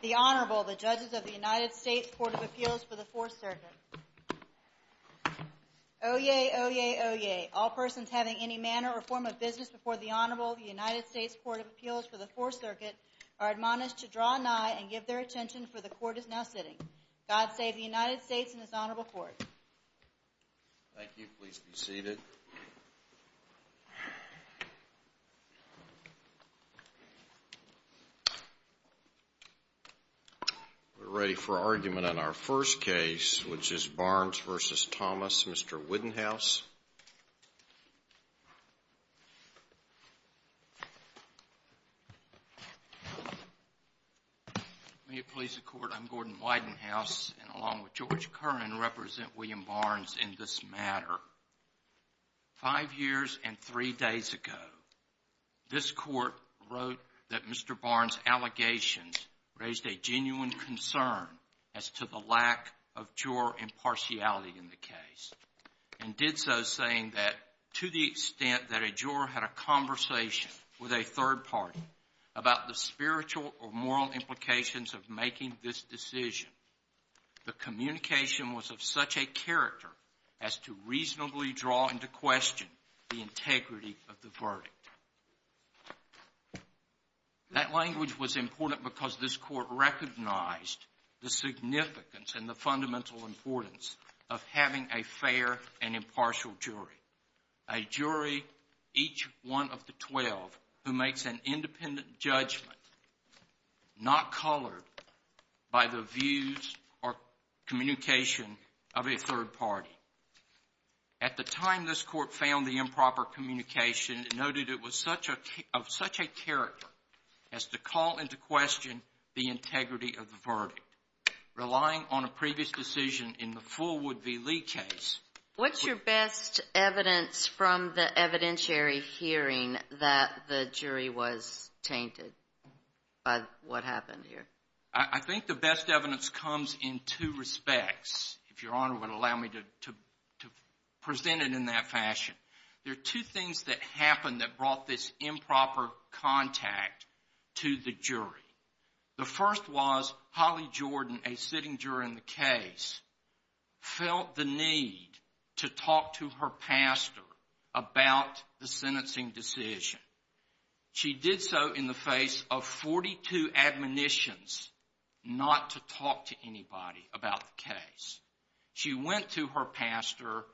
The Honorable, the Judges of the United States Court of Appeals for the Fourth Circuit. Oyez, oyez, oyez. All persons having any manner or form of business before the Honorable, the United States Court of Appeals for the Fourth Circuit are admonished to draw nigh and give their attention, for the Court is now sitting. God save the United States and His Honorable Court. Thank you. Please be seated. We're ready for argument on our first case, which is Barnes v. Thomas. Mr. Widenhouse. May it please the Court, I'm Gordon Widenhouse, and along with George Curran, represent William Barnes in this matter. Five years and three days ago, this Court wrote that Mr. Barnes' allegations raised a genuine concern as to the lack of juror impartiality in the case, and did so saying that, to the extent that a juror had a conversation with a third party about the spiritual or moral implications of making this decision, the communication was of such a character as to reasonably draw into question the integrity of the verdict. That language was important because this Court recognized the significance and the fundamental importance of having a fair and impartial jury, a jury, each one of the 12, who makes an independent judgment, not colored by the views or communication of a third party. At the time this Court found the improper communication noted it was of such a character as to call into question the integrity of the verdict. Relying on a previous decision in the full Wood v. Lee case. What's your best evidence from the evidentiary hearing that the jury was tainted by what happened here? I think the best evidence comes in two respects, if Your Honor would allow me to present it in that fashion. There are two things that happened that brought this improper contact to the jury. The first was Holly Jordan, a sitting juror in the case, felt the need to talk to her pastor about the sentencing decision. She did so in the face of 42 admonitions not to talk to anybody about the case. She went to her pastor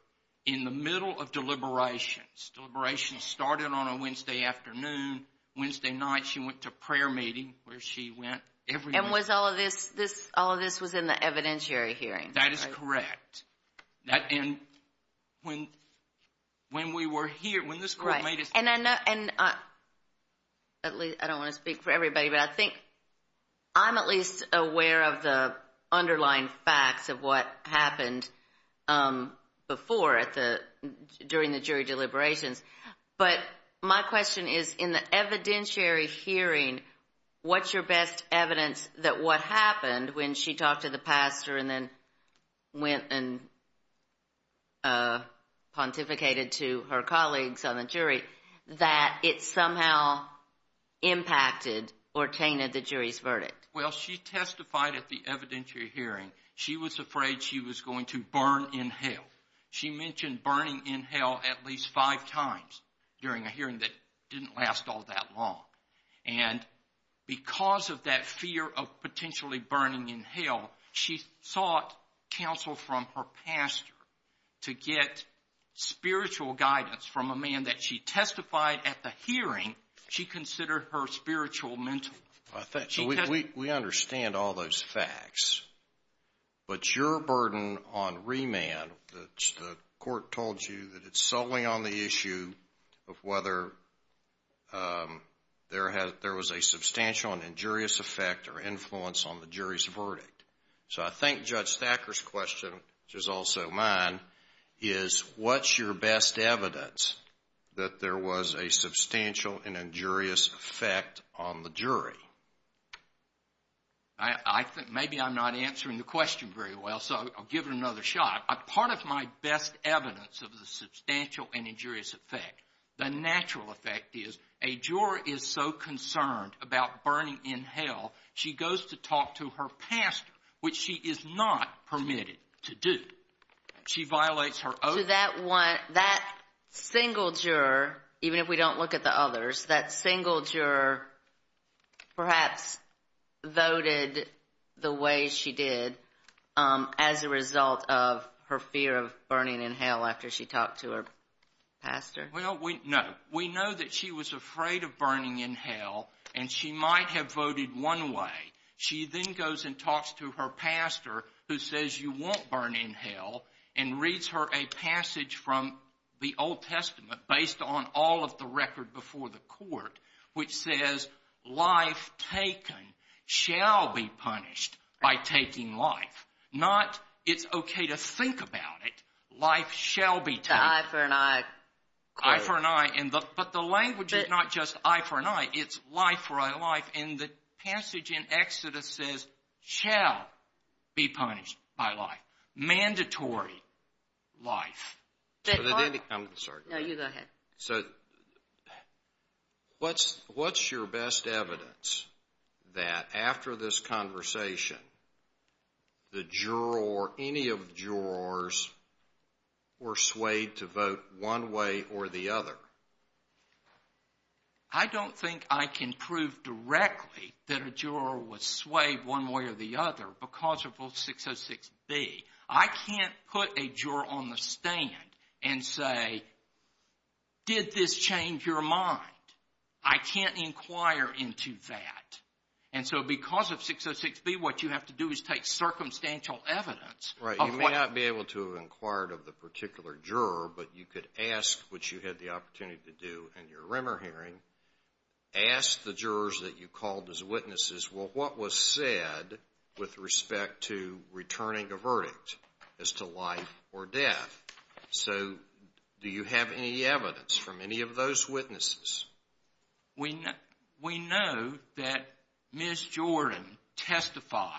in the middle of deliberations. Deliberations started on a Wednesday afternoon. Wednesday night she went to a prayer meeting where she went every week. And was all of this in the evidentiary hearing? That is correct. And when we were here, when this court made its decision. I don't want to speak for everybody, but I think I'm at least aware of the underlying facts of what happened before, during the jury deliberations. But my question is, in the evidentiary hearing, what's your best evidence that what happened when she talked to the pastor and then went and pontificated to her colleagues on the jury, that it somehow impacted or tainted the jury's verdict? Well, she testified at the evidentiary hearing. She was afraid she was going to burn in hell. She mentioned burning in hell at least five times during a hearing that didn't last all that long. And because of that fear of potentially burning in hell, she sought counsel from her pastor to get spiritual guidance from a man that she testified at the hearing she considered her spiritual mentor. We understand all those facts, but your burden on remand, the court told you that it's solely on the issue of whether there was a substantial and injurious effect or influence on the jury's verdict. So I think Judge Thacker's question, which is also mine, is what's your best evidence that there was a substantial and injurious effect on the jury? I think maybe I'm not answering the question very well, so I'll give it another shot. Part of my best evidence of the substantial and injurious effect, the natural effect is a juror is so concerned about burning in hell, she goes to talk to her pastor, which she is not permitted to do. She violates her oath. So that single juror, even if we don't look at the others, that single juror perhaps voted the way she did as a result of her fear of burning in hell after she talked to her pastor? Well, no. We know that she was afraid of burning in hell, and she might have voted one way. She then goes and talks to her pastor, who says you won't burn in hell, and reads her a passage from the Old Testament based on all of the record before the court, which says life taken shall be punished by taking life. Not it's okay to think about it. Life shall be taken. The eye for an eye. Eye for an eye. But the language is not just eye for an eye. It's life for a life, and the passage in Exodus says shall be punished by life. Mandatory life. I'm sorry. No, you go ahead. So what's your best evidence that after this conversation, the juror or any of the jurors were swayed to vote one way or the other? I don't think I can prove directly that a juror was swayed one way or the other because of 606B. I can't put a juror on the stand and say, did this change your mind? I can't inquire into that. And so because of 606B, what you have to do is take circumstantial evidence. Right. You may not be able to inquire of the particular juror, but you could ask, which you had the opportunity to do in your Rimmer hearing, ask the jurors that you called as witnesses, well, what was said with respect to returning a verdict as to life or death? So do you have any evidence from any of those witnesses? We know that Ms. Jordan testified,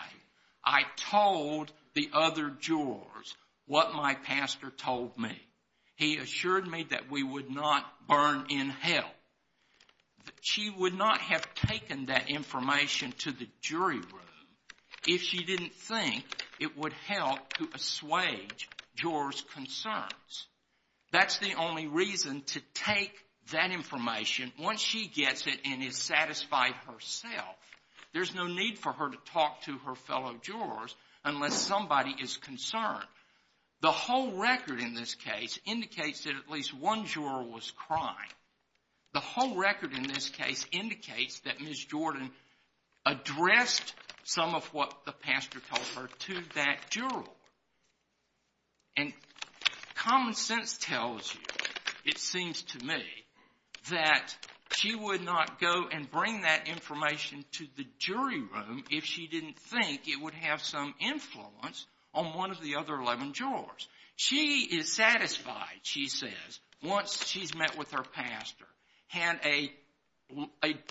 I told the other jurors what my pastor told me. He assured me that we would not burn in hell. She would not have taken that information to the jury room if she didn't think it would help to assuage jurors' concerns. That's the only reason to take that information once she gets it and is satisfied herself. There's no need for her to talk to her fellow jurors unless somebody is concerned. The whole record in this case indicates that at least one juror was crying. The whole record in this case indicates that Ms. Jordan addressed some of what the pastor told her to that juror. And common sense tells you, it seems to me, that she would not go and bring that information to the jury room if she didn't think it would have some influence on one of the other 11 jurors. She is satisfied, she says, once she's met with her pastor, had a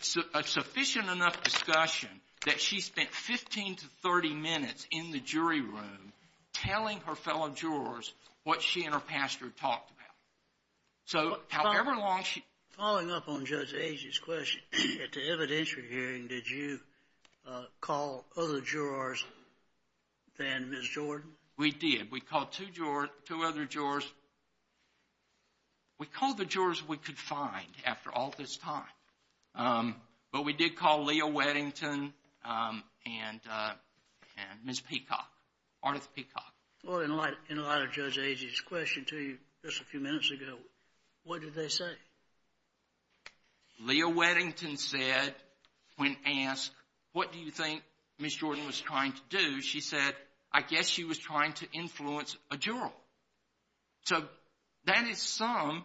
sufficient enough discussion that she spent 15 to 30 minutes in the jury room telling her fellow jurors what she and her pastor talked about. So however long she... Following up on Judge Agee's question, at the evidentiary hearing, did you call other jurors than Ms. Jordan? We did. We called two other jurors. We called the jurors we could find after all this time. But we did call Leah Weddington and Ms. Peacock, Ardeth Peacock. Well, in light of Judge Agee's question to you just a few minutes ago, what did they say? Leah Weddington said, when asked, what do you think Ms. Jordan was trying to do, she said, I guess she was trying to influence a juror. So that is some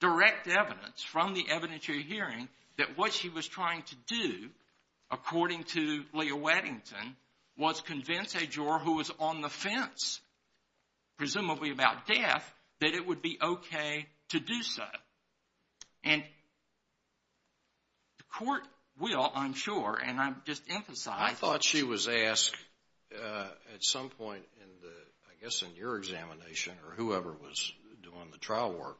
direct evidence from the evidentiary hearing that what she was trying to do, according to Leah Weddington, was convince a juror who was on the fence, presumably about death, that it would be okay to do so. And the court will, I'm sure, and I'm just emphasizing... or whoever was doing the trial work,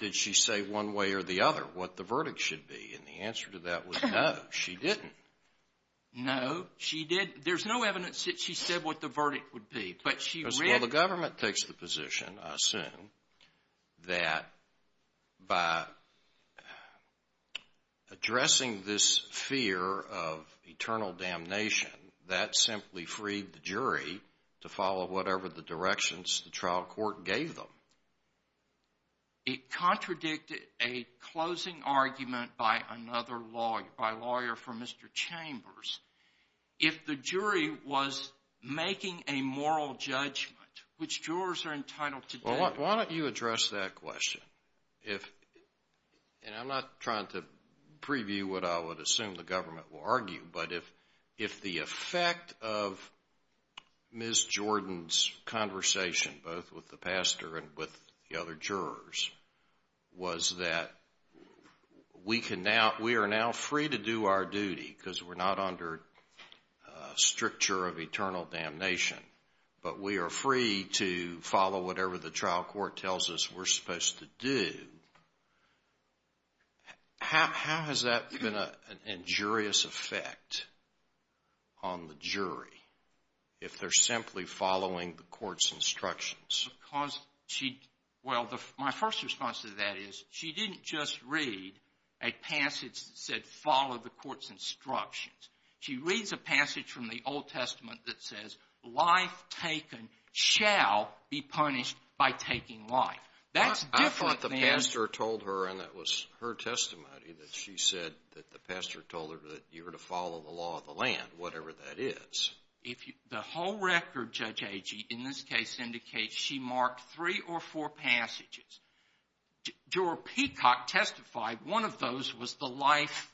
did she say one way or the other what the verdict should be? And the answer to that was no, she didn't. No, she didn't. There's no evidence that she said what the verdict would be. Well, the government takes the position, I assume, that by addressing this fear of eternal damnation, that simply freed the jury to follow whatever the directions the trial court gave them. It contradicted a closing argument by another lawyer, by a lawyer from Mr. Chambers. If the jury was making a moral judgment, which jurors are entitled to do... Well, why don't you address that question? And I'm not trying to preview what I would assume the government will argue, but if the effect of Ms. Jordan's conversation, both with the pastor and with the other jurors, was that we are now free to do our duty because we're not under stricture of eternal damnation, but we are free to follow whatever the trial court tells us we're supposed to do, how has that been an injurious effect on the jury if they're simply following the court's instructions? Well, my first response to that is she didn't just read a passage that said follow the court's instructions. She reads a passage from the Old Testament that says life taken shall be punished by taking life. That's different than... I thought the pastor told her, and that was her testimony, that she said that the pastor told her that you were to follow the law of the land, whatever that is. The whole record, Judge Agee, in this case indicates she marked three or four passages. Juror Peacock testified one of those was the life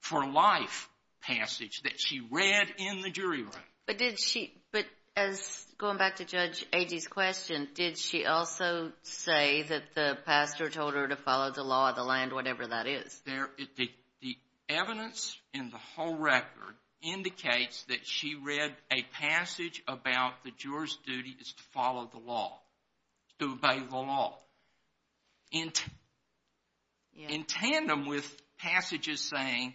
for life passage that she read in the jury room. But as going back to Judge Agee's question, did she also say that the pastor told her to follow the law of the land, whatever that is? The evidence in the whole record indicates that she read a passage about the juror's duty is to follow the law, to obey the law, in tandem with passages saying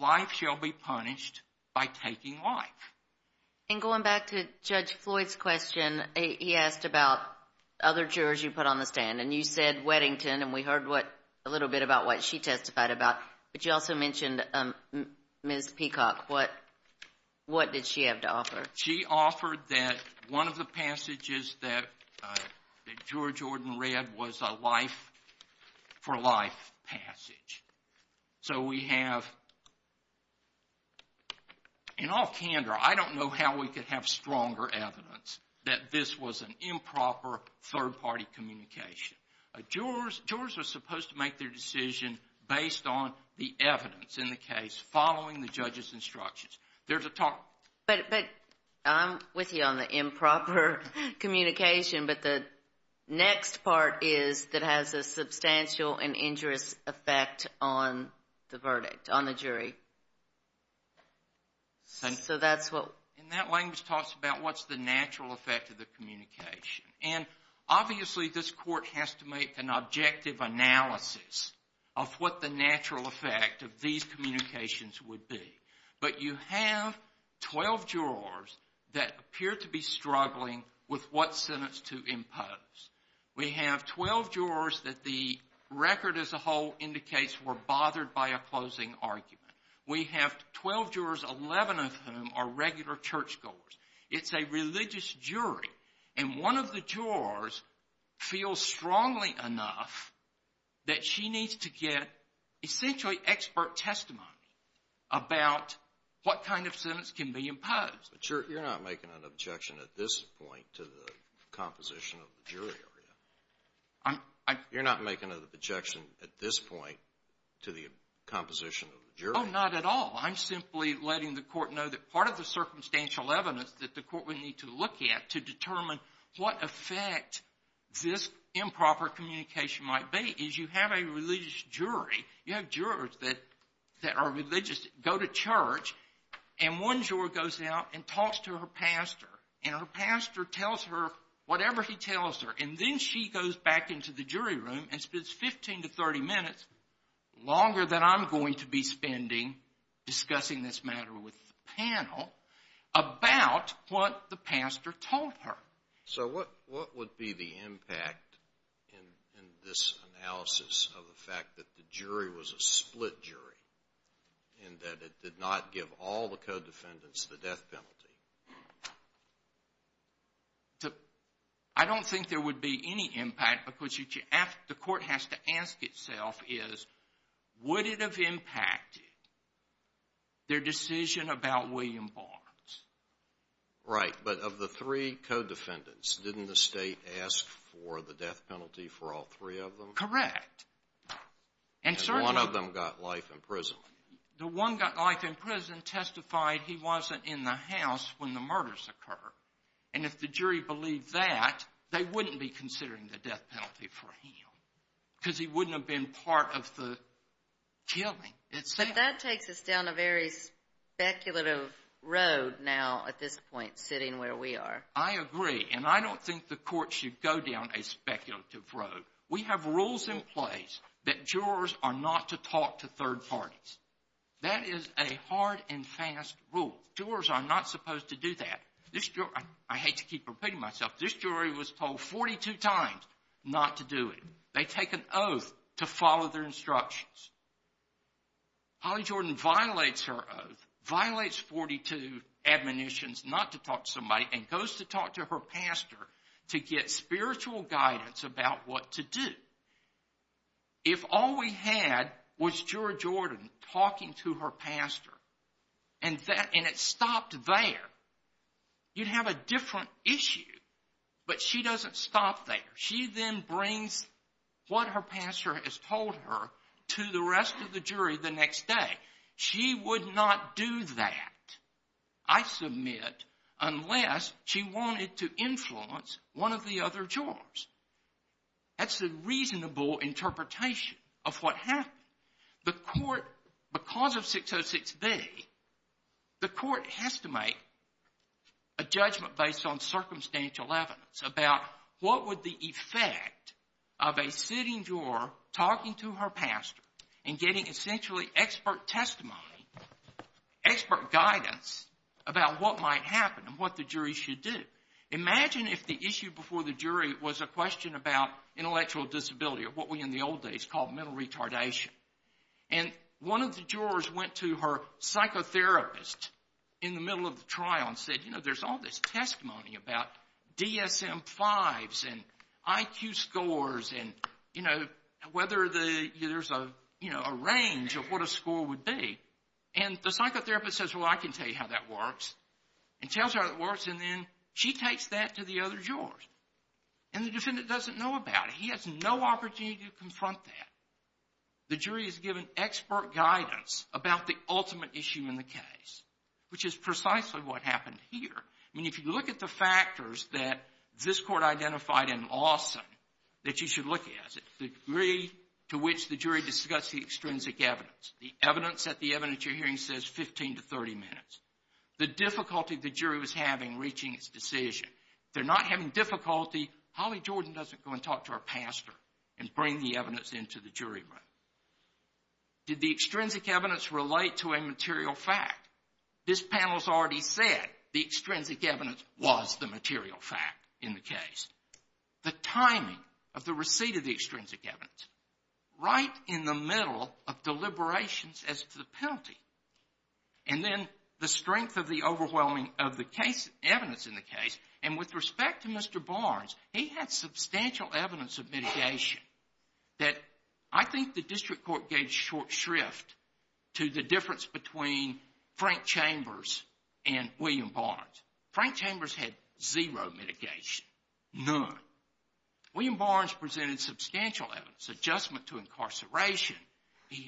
life shall be punished by taking life. And going back to Judge Floyd's question, he asked about other jurors you put on the stand. And you said Weddington, and we heard a little bit about what she testified about. But you also mentioned Ms. Peacock. What did she have to offer? She offered that one of the passages that Juror Jordan read was a life for life passage. So we have, in all candor, I don't know how we could have stronger evidence that this was an improper third-party communication. Jurors are supposed to make their decision based on the evidence in the case following the judge's instructions. There's a talk. But I'm with you on the improper communication, but the next part is that has a substantial and injurious effect on the verdict, on the jury. So that's what. And that language talks about what's the natural effect of the communication. And obviously this court has to make an objective analysis of what the natural effect of these communications would be. But you have 12 jurors that appear to be struggling with what sentence to impose. We have 12 jurors that the record as a whole indicates were bothered by a closing argument. We have 12 jurors, 11 of whom are regular churchgoers. It's a religious jury. And one of the jurors feels strongly enough that she needs to get essentially expert testimony about what kind of sentence can be imposed. But you're not making an objection at this point to the composition of the jury area. I'm — You're not making an objection at this point to the composition of the jury area. Oh, not at all. I'm simply letting the court know that part of the circumstantial evidence that the court would need to look at to determine what effect this improper communication might be is you have a religious jury. You have jurors that are religious, go to church, and one juror goes out and talks to her pastor. And her pastor tells her whatever he tells her. And then she goes back into the jury room and spends 15 to 30 minutes, longer than I'm going to be spending discussing this matter with the panel, about what the pastor told her. So what would be the impact in this analysis of the fact that the jury was a split jury and that it did not give all the co-defendants the death penalty? I don't think there would be any impact because the court has to ask itself is would it have impacted their decision about William Barnes? Right. But of the three co-defendants, didn't the State ask for the death penalty for all three of them? Correct. And certainly — And one of them got life in prison. The one got life in prison testified he wasn't in the house when the murders occurred. And if the jury believed that, they wouldn't be considering the death penalty for him because he wouldn't have been part of the killing itself. But that takes us down a very speculative road now at this point, sitting where we are. I agree. And I don't think the court should go down a speculative road. We have rules in place that jurors are not to talk to third parties. That is a hard and fast rule. Jurors are not supposed to do that. I hate to keep repeating myself. This jury was told 42 times not to do it. They take an oath to follow their instructions. Holly Jordan violates her oath, violates 42 admonitions not to talk to somebody, and goes to talk to her pastor to get spiritual guidance about what to do. If all we had was Jura Jordan talking to her pastor and it stopped there, you'd have a different issue. But she doesn't stop there. She then brings what her pastor has told her to the rest of the jury the next day. She would not do that, I submit, unless she wanted to influence one of the other jurors. That's a reasonable interpretation of what happened. The court, because of 606B, the court has to make a judgment based on circumstantial evidence about what would the effect of a sitting juror talking to her pastor and getting essentially expert testimony, expert guidance about what might happen and what the jury should do. Imagine if the issue before the jury was a question about intellectual disability or what we in the old days called mental retardation. One of the jurors went to her psychotherapist in the middle of the trial and said, there's all this testimony about DSM-5s and IQ scores and whether there's a range of what a score would be. And the psychotherapist says, well, I can tell you how that works and tells her how it works and then she takes that to the other jurors. And the defendant doesn't know about it. He has no opportunity to confront that. The jury is given expert guidance about the ultimate issue in the case, which is precisely what happened here. I mean, if you look at the factors that this court identified in Lawson that you should look at, the degree to which the jury discussed the extrinsic evidence, the evidence that the evidence you're hearing says 15 to 30 minutes, the difficulty the jury was having reaching its decision. If they're not having difficulty, Holly Jordan doesn't go and talk to her pastor and bring the evidence into the jury room. Did the extrinsic evidence relate to a material fact? This panel has already said the extrinsic evidence was the material fact in the case. The timing of the receipt of the extrinsic evidence, right in the middle of deliberations as to the penalty, and then the strength of the overwhelming of the evidence in the case. And with respect to Mr. Barnes, he had substantial evidence of mitigation that I think the district court gave short shrift to the difference between Frank Chambers and William Barnes. Frank Chambers had zero mitigation, none. William Barnes presented substantial evidence, adjustment to incarceration. He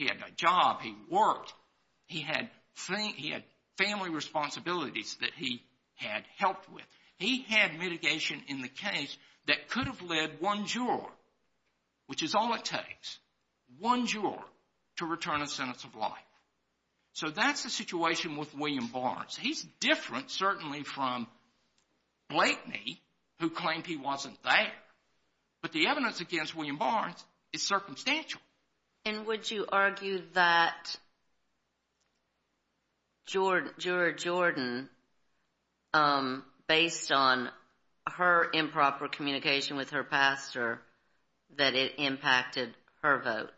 had a job. He worked. He had family responsibilities that he had helped with. He had mitigation in the case that could have led one juror, which is all it takes, one juror to return a sentence of life. So that's the situation with William Barnes. He's different, certainly, from Blakeney, who claimed he wasn't there. But the evidence against William Barnes is circumstantial. And would you argue that Juror Jordan, based on her improper communication with her pastor, that it impacted her vote?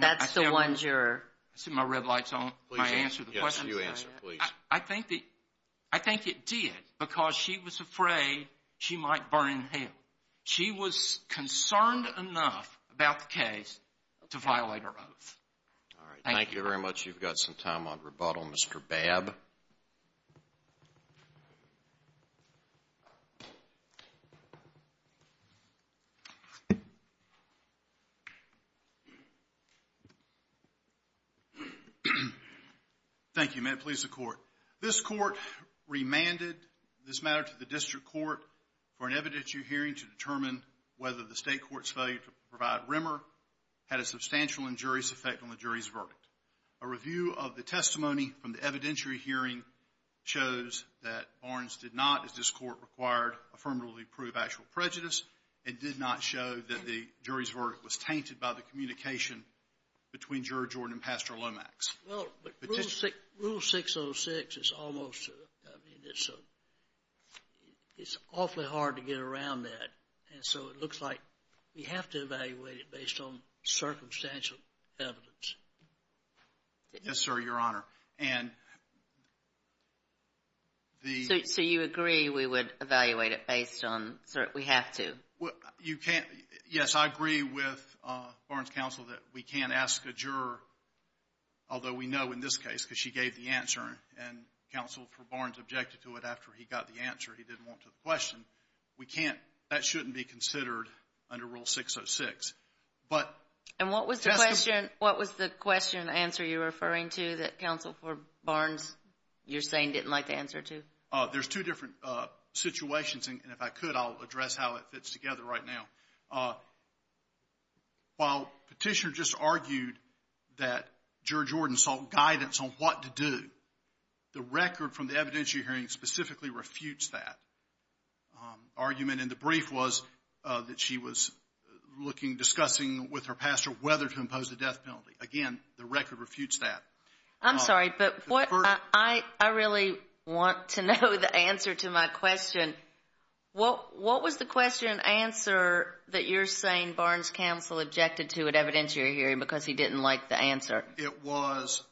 That's the one juror. I see my red light's on. May I answer the question? Yes, you answer, please. I think it did because she was afraid she might burn in hell. She was concerned enough about the case to violate her oath. All right. Thank you very much. You've got some time on rebuttal, Mr. Babb. Thank you. May it please the Court. This Court remanded this matter to the District Court for an evidentiary hearing to determine whether the State Court's failure to provide rimmer had a substantial injurious effect on the jury's verdict. A review of the testimony from the evidentiary hearing shows that Barnes did not, as this Court required, affirmatively prove actual prejudice. It did not show that the jury's verdict was tainted by the communication between Juror Jordan and Pastor Lomax. Well, but Rule 606 is almost, I mean, it's awfully hard to get around that. And so it looks like we have to evaluate it based on circumstantial evidence. Yes, sir, Your Honor. So you agree we would evaluate it based on, we have to? Yes, I agree with Barnes' counsel that we can't ask a juror, although we know in this case because she gave the answer and counsel for Barnes objected to it after he got the answer. He didn't want to question. We can't, that shouldn't be considered under Rule 606. And what was the question answer you're referring to that counsel for Barnes, you're saying, didn't like the answer to? There's two different situations, and if I could, I'll address how it fits together right now. While Petitioner just argued that Juror Jordan sought guidance on what to do, the record from the evidentiary hearing specifically refutes that argument. And the brief was that she was looking, discussing with her pastor whether to impose the death penalty. Again, the record refutes that. I'm sorry, but I really want to know the answer to my question. What was the question answer that you're saying Barnes' counsel objected to at evidentiary hearing because he didn't like the answer? In fact, it was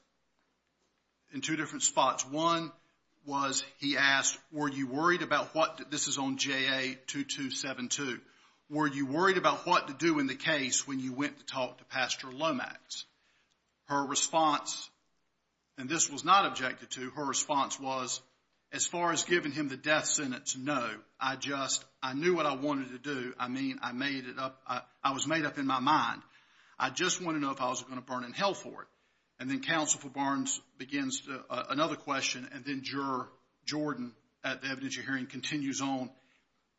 in two different spots. One was he asked, were you worried about what, this is on JA-2272, were you worried about what to do in the case when you went to talk to Pastor Lomax? Her response, and this was not objected to, her response was, as far as giving him the death sentence, no. I just, I knew what I wanted to do. I mean, I made it up, I was made up in my mind. I just wanted to know if I was going to burn in hell for it. And then counsel for Barnes begins another question and then Juror Jordan at the evidentiary hearing continues on,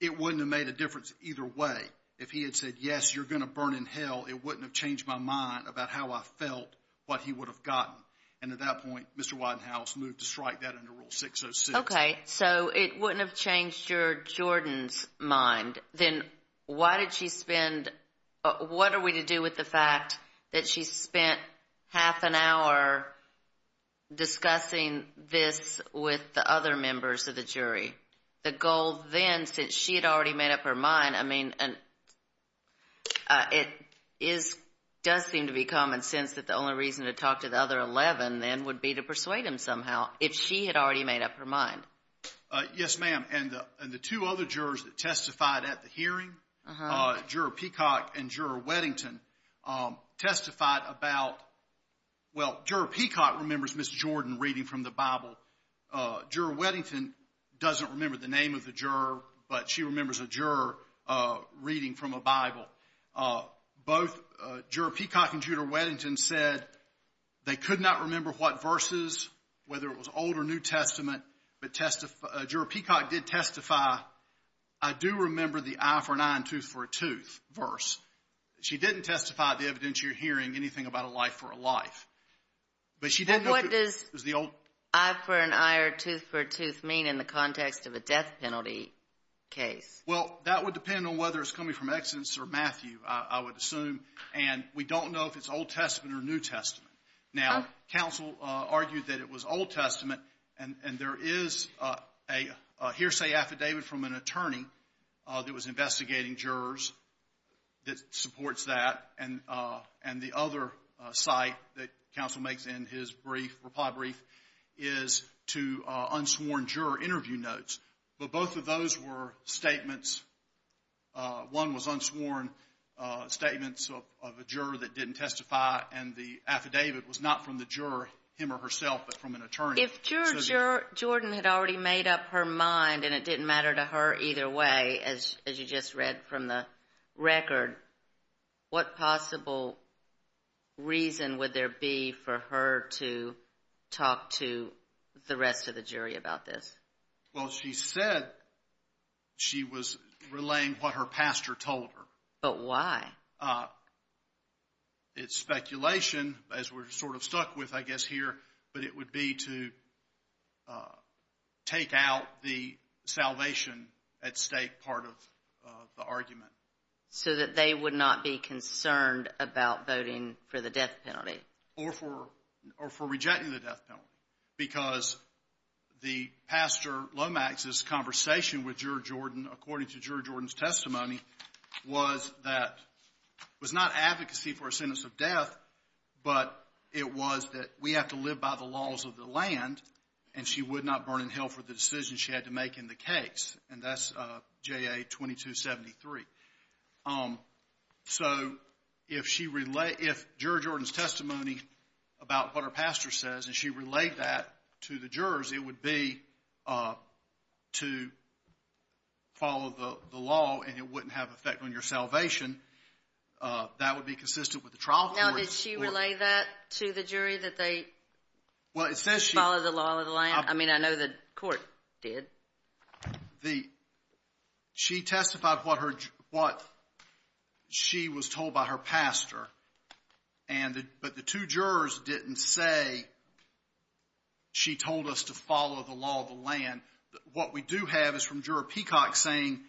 it wouldn't have made a difference either way. If he had said, yes, you're going to burn in hell, it wouldn't have changed my mind about how I felt what he would have gotten. And at that point, Mr. Widenhouse moved to strike that under Rule 606. Okay, so it wouldn't have changed your, Jordan's mind. Then why did she spend, what are we to do with the fact that she spent half an hour discussing this with the other members of the jury? The goal then, since she had already made up her mind, I mean, it is, does seem to be common sense that the only reason to talk to the other 11 then would be to persuade him somehow, if she had already made up her mind. Yes, ma'am. And the two other jurors that testified at the hearing, Juror Peacock and Juror Weddington testified about, well, Juror Peacock remembers Ms. Jordan reading from the Bible. Juror Weddington doesn't remember the name of the juror, but she remembers a juror reading from a Bible. Both Juror Peacock and Juror Weddington said they could not remember what verses, whether it was Old or New Testament, but Juror Peacock did testify, I do remember the eye for an eye and tooth for a tooth verse. She didn't testify at the evidentiary hearing anything about a life for a life. But she didn't know if it was the old. And what does eye for an eye or tooth for a tooth mean in the context of a death penalty case? Well, that would depend on whether it's coming from Exodus or Matthew, I would assume. And we don't know if it's Old Testament or New Testament. Now, counsel argued that it was Old Testament, and there is a hearsay affidavit from an attorney that was investigating jurors that supports that. And the other site that counsel makes in his brief, reply brief, is to unsworn juror interview notes. But both of those were statements. One was unsworn statements of a juror that didn't testify, and the affidavit was not from the juror, him or herself, but from an attorney. If Juror Jordan had already made up her mind and it didn't matter to her either way, as you just read from the record, what possible reason would there be for her to talk to the rest of the jury about this? Well, she said she was relaying what her pastor told her. But why? It's speculation, as we're sort of stuck with, I guess, here, but it would be to take out the salvation at stake part of the argument. So that they would not be concerned about voting for the death penalty? Or for rejecting the death penalty, because the pastor Lomax's conversation with Juror Jordan, according to Juror Jordan's testimony, was that it was not advocacy for a sentence of death, but it was that we have to live by the laws of the land, and she would not burn in hell for the decision she had to make in the case. And that's JA 2273. So if Juror Jordan's testimony about what her pastor says, and she relayed that to the jurors, it would be to follow the law and it wouldn't have an effect on your salvation. That would be consistent with the trial court. Now, did she relay that to the jury, that they follow the law of the land? I mean, I know the court did. She testified what she was told by her pastor, but the two jurors didn't say she told us to follow the law of the land. What we do have is from Juror Peacock saying,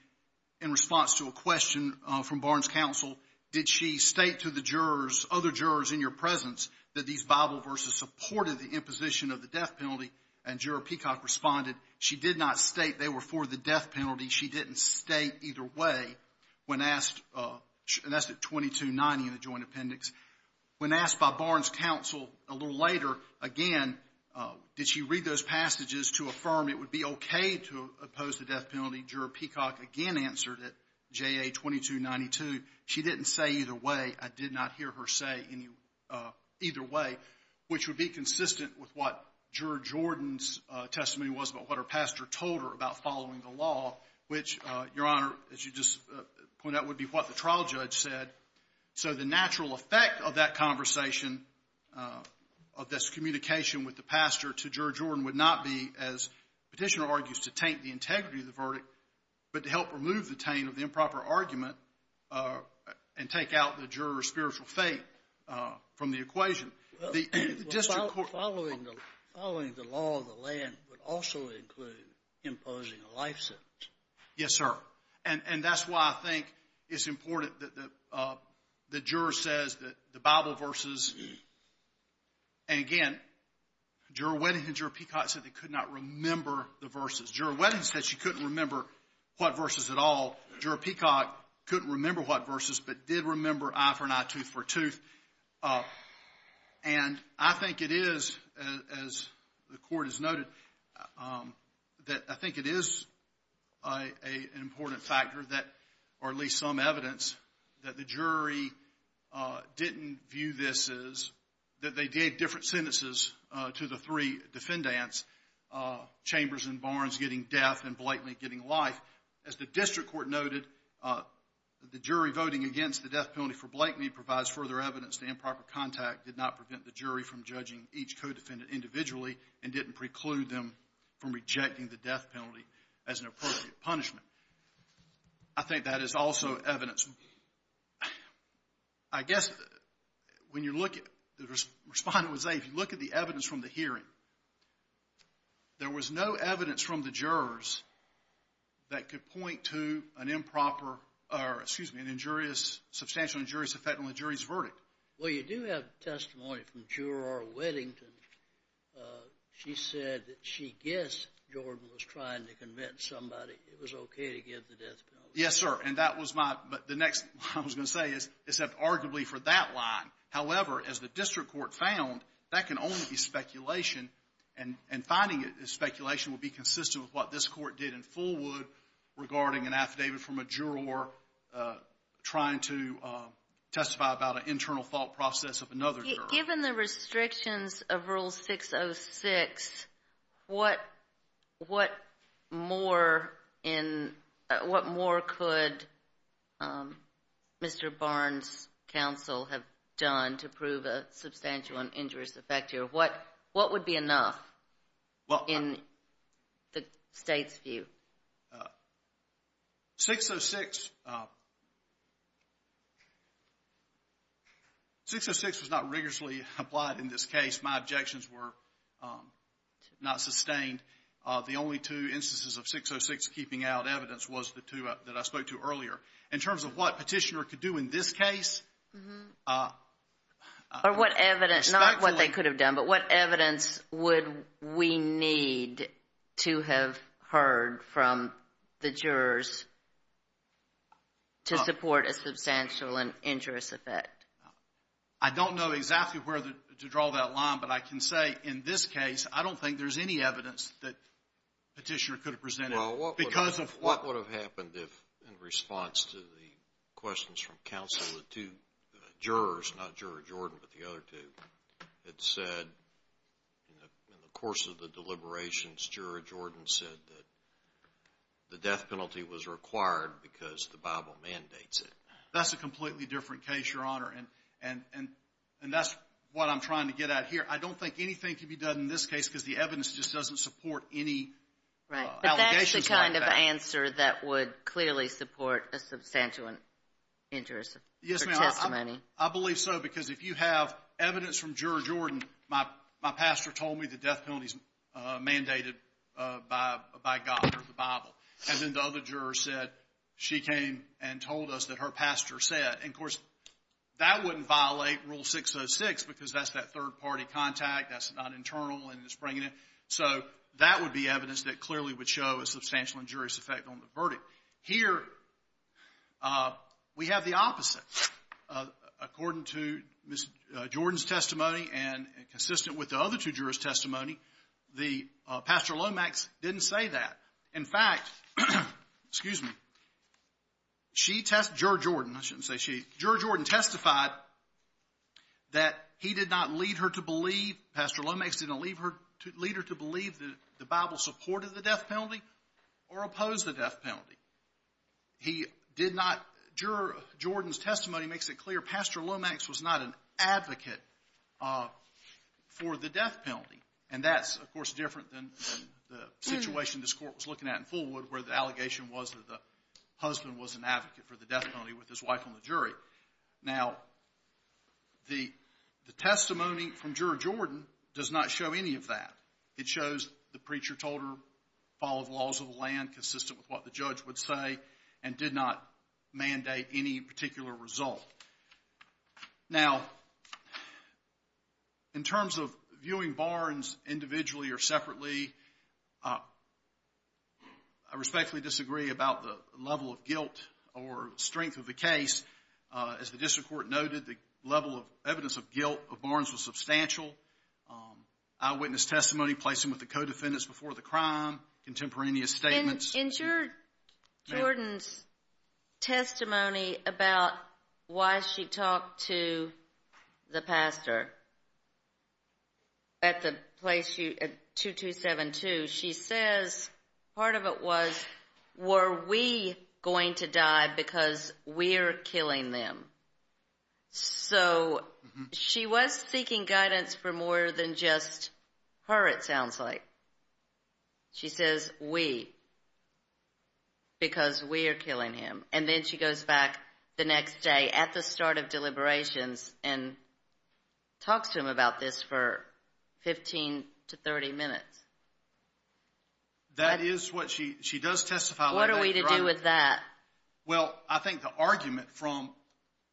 in response to a question from Barnes Counsel, did she state to the jurors, other jurors in your presence, that these Bible verses supported the imposition of the death penalty? And Juror Peacock responded, she did not state they were for the death penalty. She didn't state either way. And that's at 2290 in the joint appendix. When asked by Barnes Counsel a little later again, did she read those passages to affirm it would be okay to oppose the death penalty? Juror Peacock again answered it, JA 2292. She didn't say either way. I did not hear her say either way, which would be consistent with what Juror Jordan's testimony was about what her pastor told her about following the law, which, Your Honor, as you just pointed out, would be what the trial judge said. So the natural effect of that conversation, of this communication with the pastor to Juror Jordan, would not be, as Petitioner argues, to taint the integrity of the verdict, but to help remove the taint of the improper argument and take out the juror's spiritual faith from the equation. Following the law of the land would also include imposing a life sentence. Yes, sir. And that's why I think it's important that the juror says that the Bible verses, and again, Juror Wedding and Juror Peacock said they could not remember the verses. Juror Wedding said she couldn't remember what verses at all. Juror Peacock couldn't remember what verses, but did remember eye for an eye, tooth for a tooth. And I think it is, as the Court has noted, that I think it is an important factor that, or at least some evidence, that the jury didn't view this as, that they gave different sentences to the three defendants, Chambers and Barnes getting death and Blakeney getting life. As the District Court noted, the jury voting against the death penalty for Blakeney provides further evidence the improper contact did not prevent the jury from judging each co-defendant individually and didn't preclude them from rejecting the death penalty as an appropriate punishment. I think that is also evidence. I guess when you look at, the Respondent would say, if you look at the evidence from the hearing, there was no evidence from the jurors that could point to an improper, or excuse me, an injurious, substantial injurious effect on the jury's verdict. Well, you do have testimony from Juror Weddington. She said that she guessed Jordan was trying to convince somebody it was okay to give the death penalty. Yes, sir. And that was my, the next thing I was going to say is, except arguably for that line. However, as the District Court found, that can only be speculation. And finding it is speculation would be consistent with what this Court did in Fullwood regarding an affidavit from a juror trying to testify about an internal thought process of another juror. Given the restrictions of Rule 606, what more could Mr. Barnes' counsel have done to prove a substantial and injurious effect here? What would be enough in the State's view? 606, 606 was not rigorously applied in this case. My objections were not sustained. The only two instances of 606 keeping out evidence was the two that I spoke to earlier. In terms of what Petitioner could do in this case, Or what evidence, not what they could have done, but what evidence would we need to have heard from the jurors to support a substantial and injurious effect? I don't know exactly where to draw that line, but I can say in this case, I don't think there's any evidence that Petitioner could have presented because of what would have happened In response to the questions from counsel, the two jurors, not Juror Jordan, but the other two, had said in the course of the deliberations, Juror Jordan said that the death penalty was required because the Bible mandates it. That's a completely different case, Your Honor, and that's what I'm trying to get at here. I don't think anything could be done in this case because the evidence just doesn't support any allegations like that. Is there any kind of answer that would clearly support a substantial and injurious testimony? Yes, ma'am. I believe so because if you have evidence from Juror Jordan, my pastor told me the death penalty is mandated by God or the Bible. And then the other juror said she came and told us that her pastor said. And, of course, that wouldn't violate Rule 606 because that's that third-party contact. That's not internal and it's bringing it. So that would be evidence that clearly would show a substantial injurious effect on the verdict. Here we have the opposite. According to Ms. Jordan's testimony and consistent with the other two jurors' testimony, the Pastor Lomax didn't say that. In fact, excuse me, she test – Juror Jordan. I shouldn't say she. I believe that the Bible supported the death penalty or opposed the death penalty. He did not – Juror Jordan's testimony makes it clear Pastor Lomax was not an advocate for the death penalty. And that's, of course, different than the situation this Court was looking at in Fullwood where the allegation was that the husband was an advocate for the death penalty with his wife on the jury. Now, the testimony from Juror Jordan does not show any of that. It shows the preacher told her to follow the laws of the land consistent with what the judge would say and did not mandate any particular result. Now, in terms of viewing Barnes individually or separately, I respectfully disagree about the level of guilt or strength of the case. As the District Court noted, the level of evidence of guilt of Barnes was substantial. Eyewitness testimony, placing with the co-defendants before the crime, contemporaneous statements. In Juror Jordan's testimony about why she talked to the pastor at 2272, she says part of it was, were we going to die because we're killing them? So, she was seeking guidance for more than just her, it sounds like. She says, we, because we're killing him. And then she goes back the next day at the start of deliberations and talks to him about this for 15 to 30 minutes. That is what she, she does testify like that. What are we to do with that? Well, I think the argument from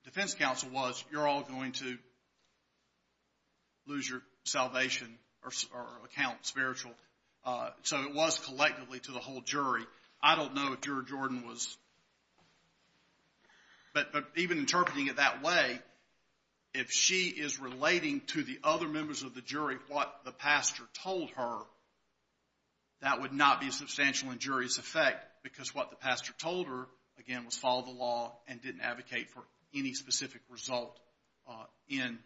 defense counsel was, you're all going to lose your salvation or account spiritual. So, it was collectively to the whole jury. I don't know if Juror Jordan was, but even interpreting it that way, if she is relating to the other members of the jury what the pastor told her, that would not be a substantial injurious effect, because what the pastor told her, again, was follow the law and didn't advocate for any specific result in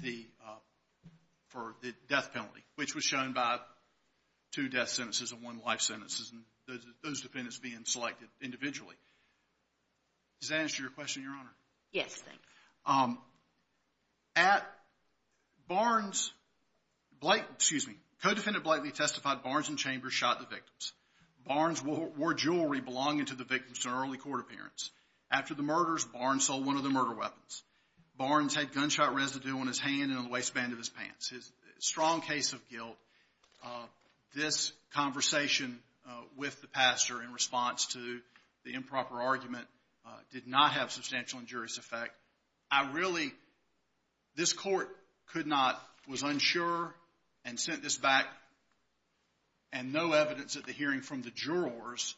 the, for the death penalty, which was shown by two death sentences and one life sentence, and those defendants being selected individually. Does that answer your question, Your Honor? Yes, thanks. At Barnes, Blake, excuse me, co-defendant Blakely testified Barnes and Chambers shot the victims. Barnes wore jewelry belonging to the victims in an early court appearance. After the murders, Barnes sold one of the murder weapons. Barnes had gunshot residue on his hand and on the waistband of his pants. Strong case of guilt. This conversation with the pastor in response to the improper argument did not have substantial injurious effect. I really, this court could not, was unsure and sent this back, and no evidence at the hearing from the jurors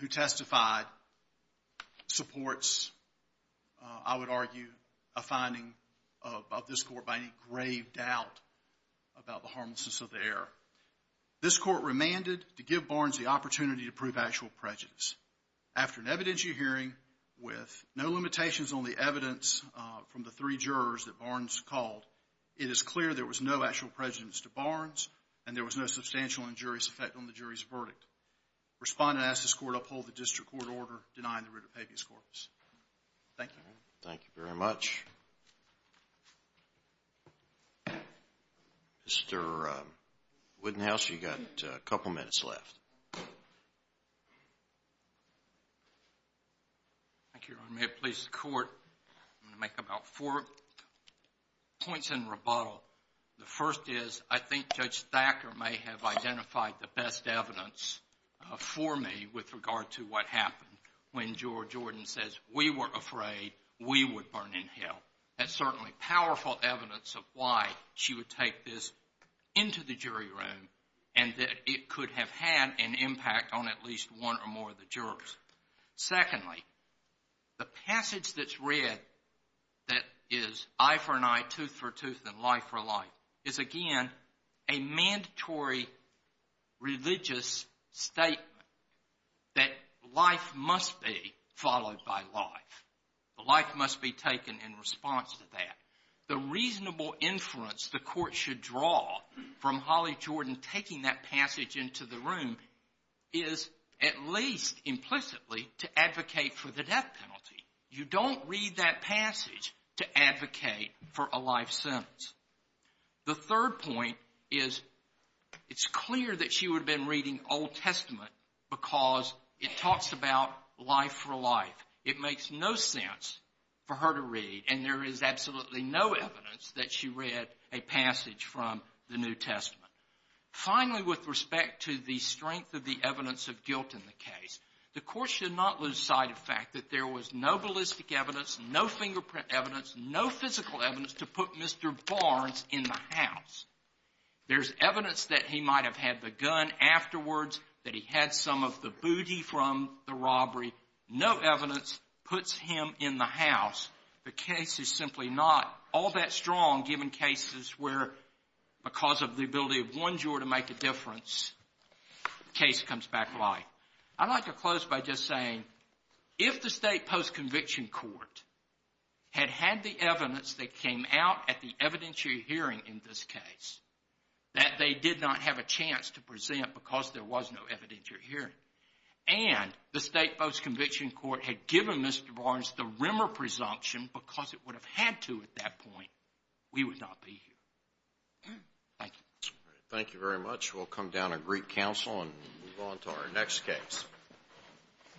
who testified supports, I would argue, a finding of this court by any grave doubt about the harmlessness of the error. This court remanded to give Barnes the opportunity to prove actual prejudice. After an evidentiary hearing with no limitations on the evidence from the three jurors that Barnes called, it is clear there was no actual prejudice to Barnes and there was no substantial injurious effect on the jury's verdict. Respondent asked this court to uphold the district court order denying the writ of habeas corpus. Thank you. Thank you very much. Mr. Woodenhouse, you've got a couple minutes left. Thank you, Your Honor. May it please the court, I'm going to make about four points in rebuttal. The first is I think Judge Thacker may have identified the best evidence for me with regard to what happened when George Jordan says, we were afraid we would burn in hell. That's certainly powerful evidence of why she would take this into the jury room and that it could have had an impact on at least one or more of the jurors. Secondly, the passage that's read that is, eye for an eye, tooth for a tooth, and life for life, is again a mandatory religious statement that life must be followed by life. Life must be taken in response to that. The reasonable inference the court should draw from Holly Jordan taking that passage into the room is at least implicitly to advocate for the death penalty. You don't read that passage to advocate for a life sentence. The third point is it's clear that she would have been reading Old Testament because it talks about life for life. It makes no sense for her to read, and there is absolutely no evidence that she read a passage from the New Testament. Finally, with respect to the strength of the evidence of guilt in the case, the court should not lose sight of the fact that there was no ballistic evidence, no fingerprint evidence, no physical evidence to put Mr. Barnes in the house. There's evidence that he might have had the gun afterwards, that he had some of the booty from the robbery. No evidence puts him in the house. The case is simply not all that strong, given cases where because of the ability of one juror to make a difference, the case comes back to life. I'd like to close by just saying if the state post-conviction court had had the evidence that came out at the evidentiary hearing in this case that they did not have a chance to present because there was no evidentiary hearing and the state post-conviction court had given Mr. Barnes the Rimmer presumption because it would have had to at that point, we would not be here. Thank you. Thank you very much. We'll come down and greet counsel and move on to our next case.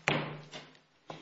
Thank you.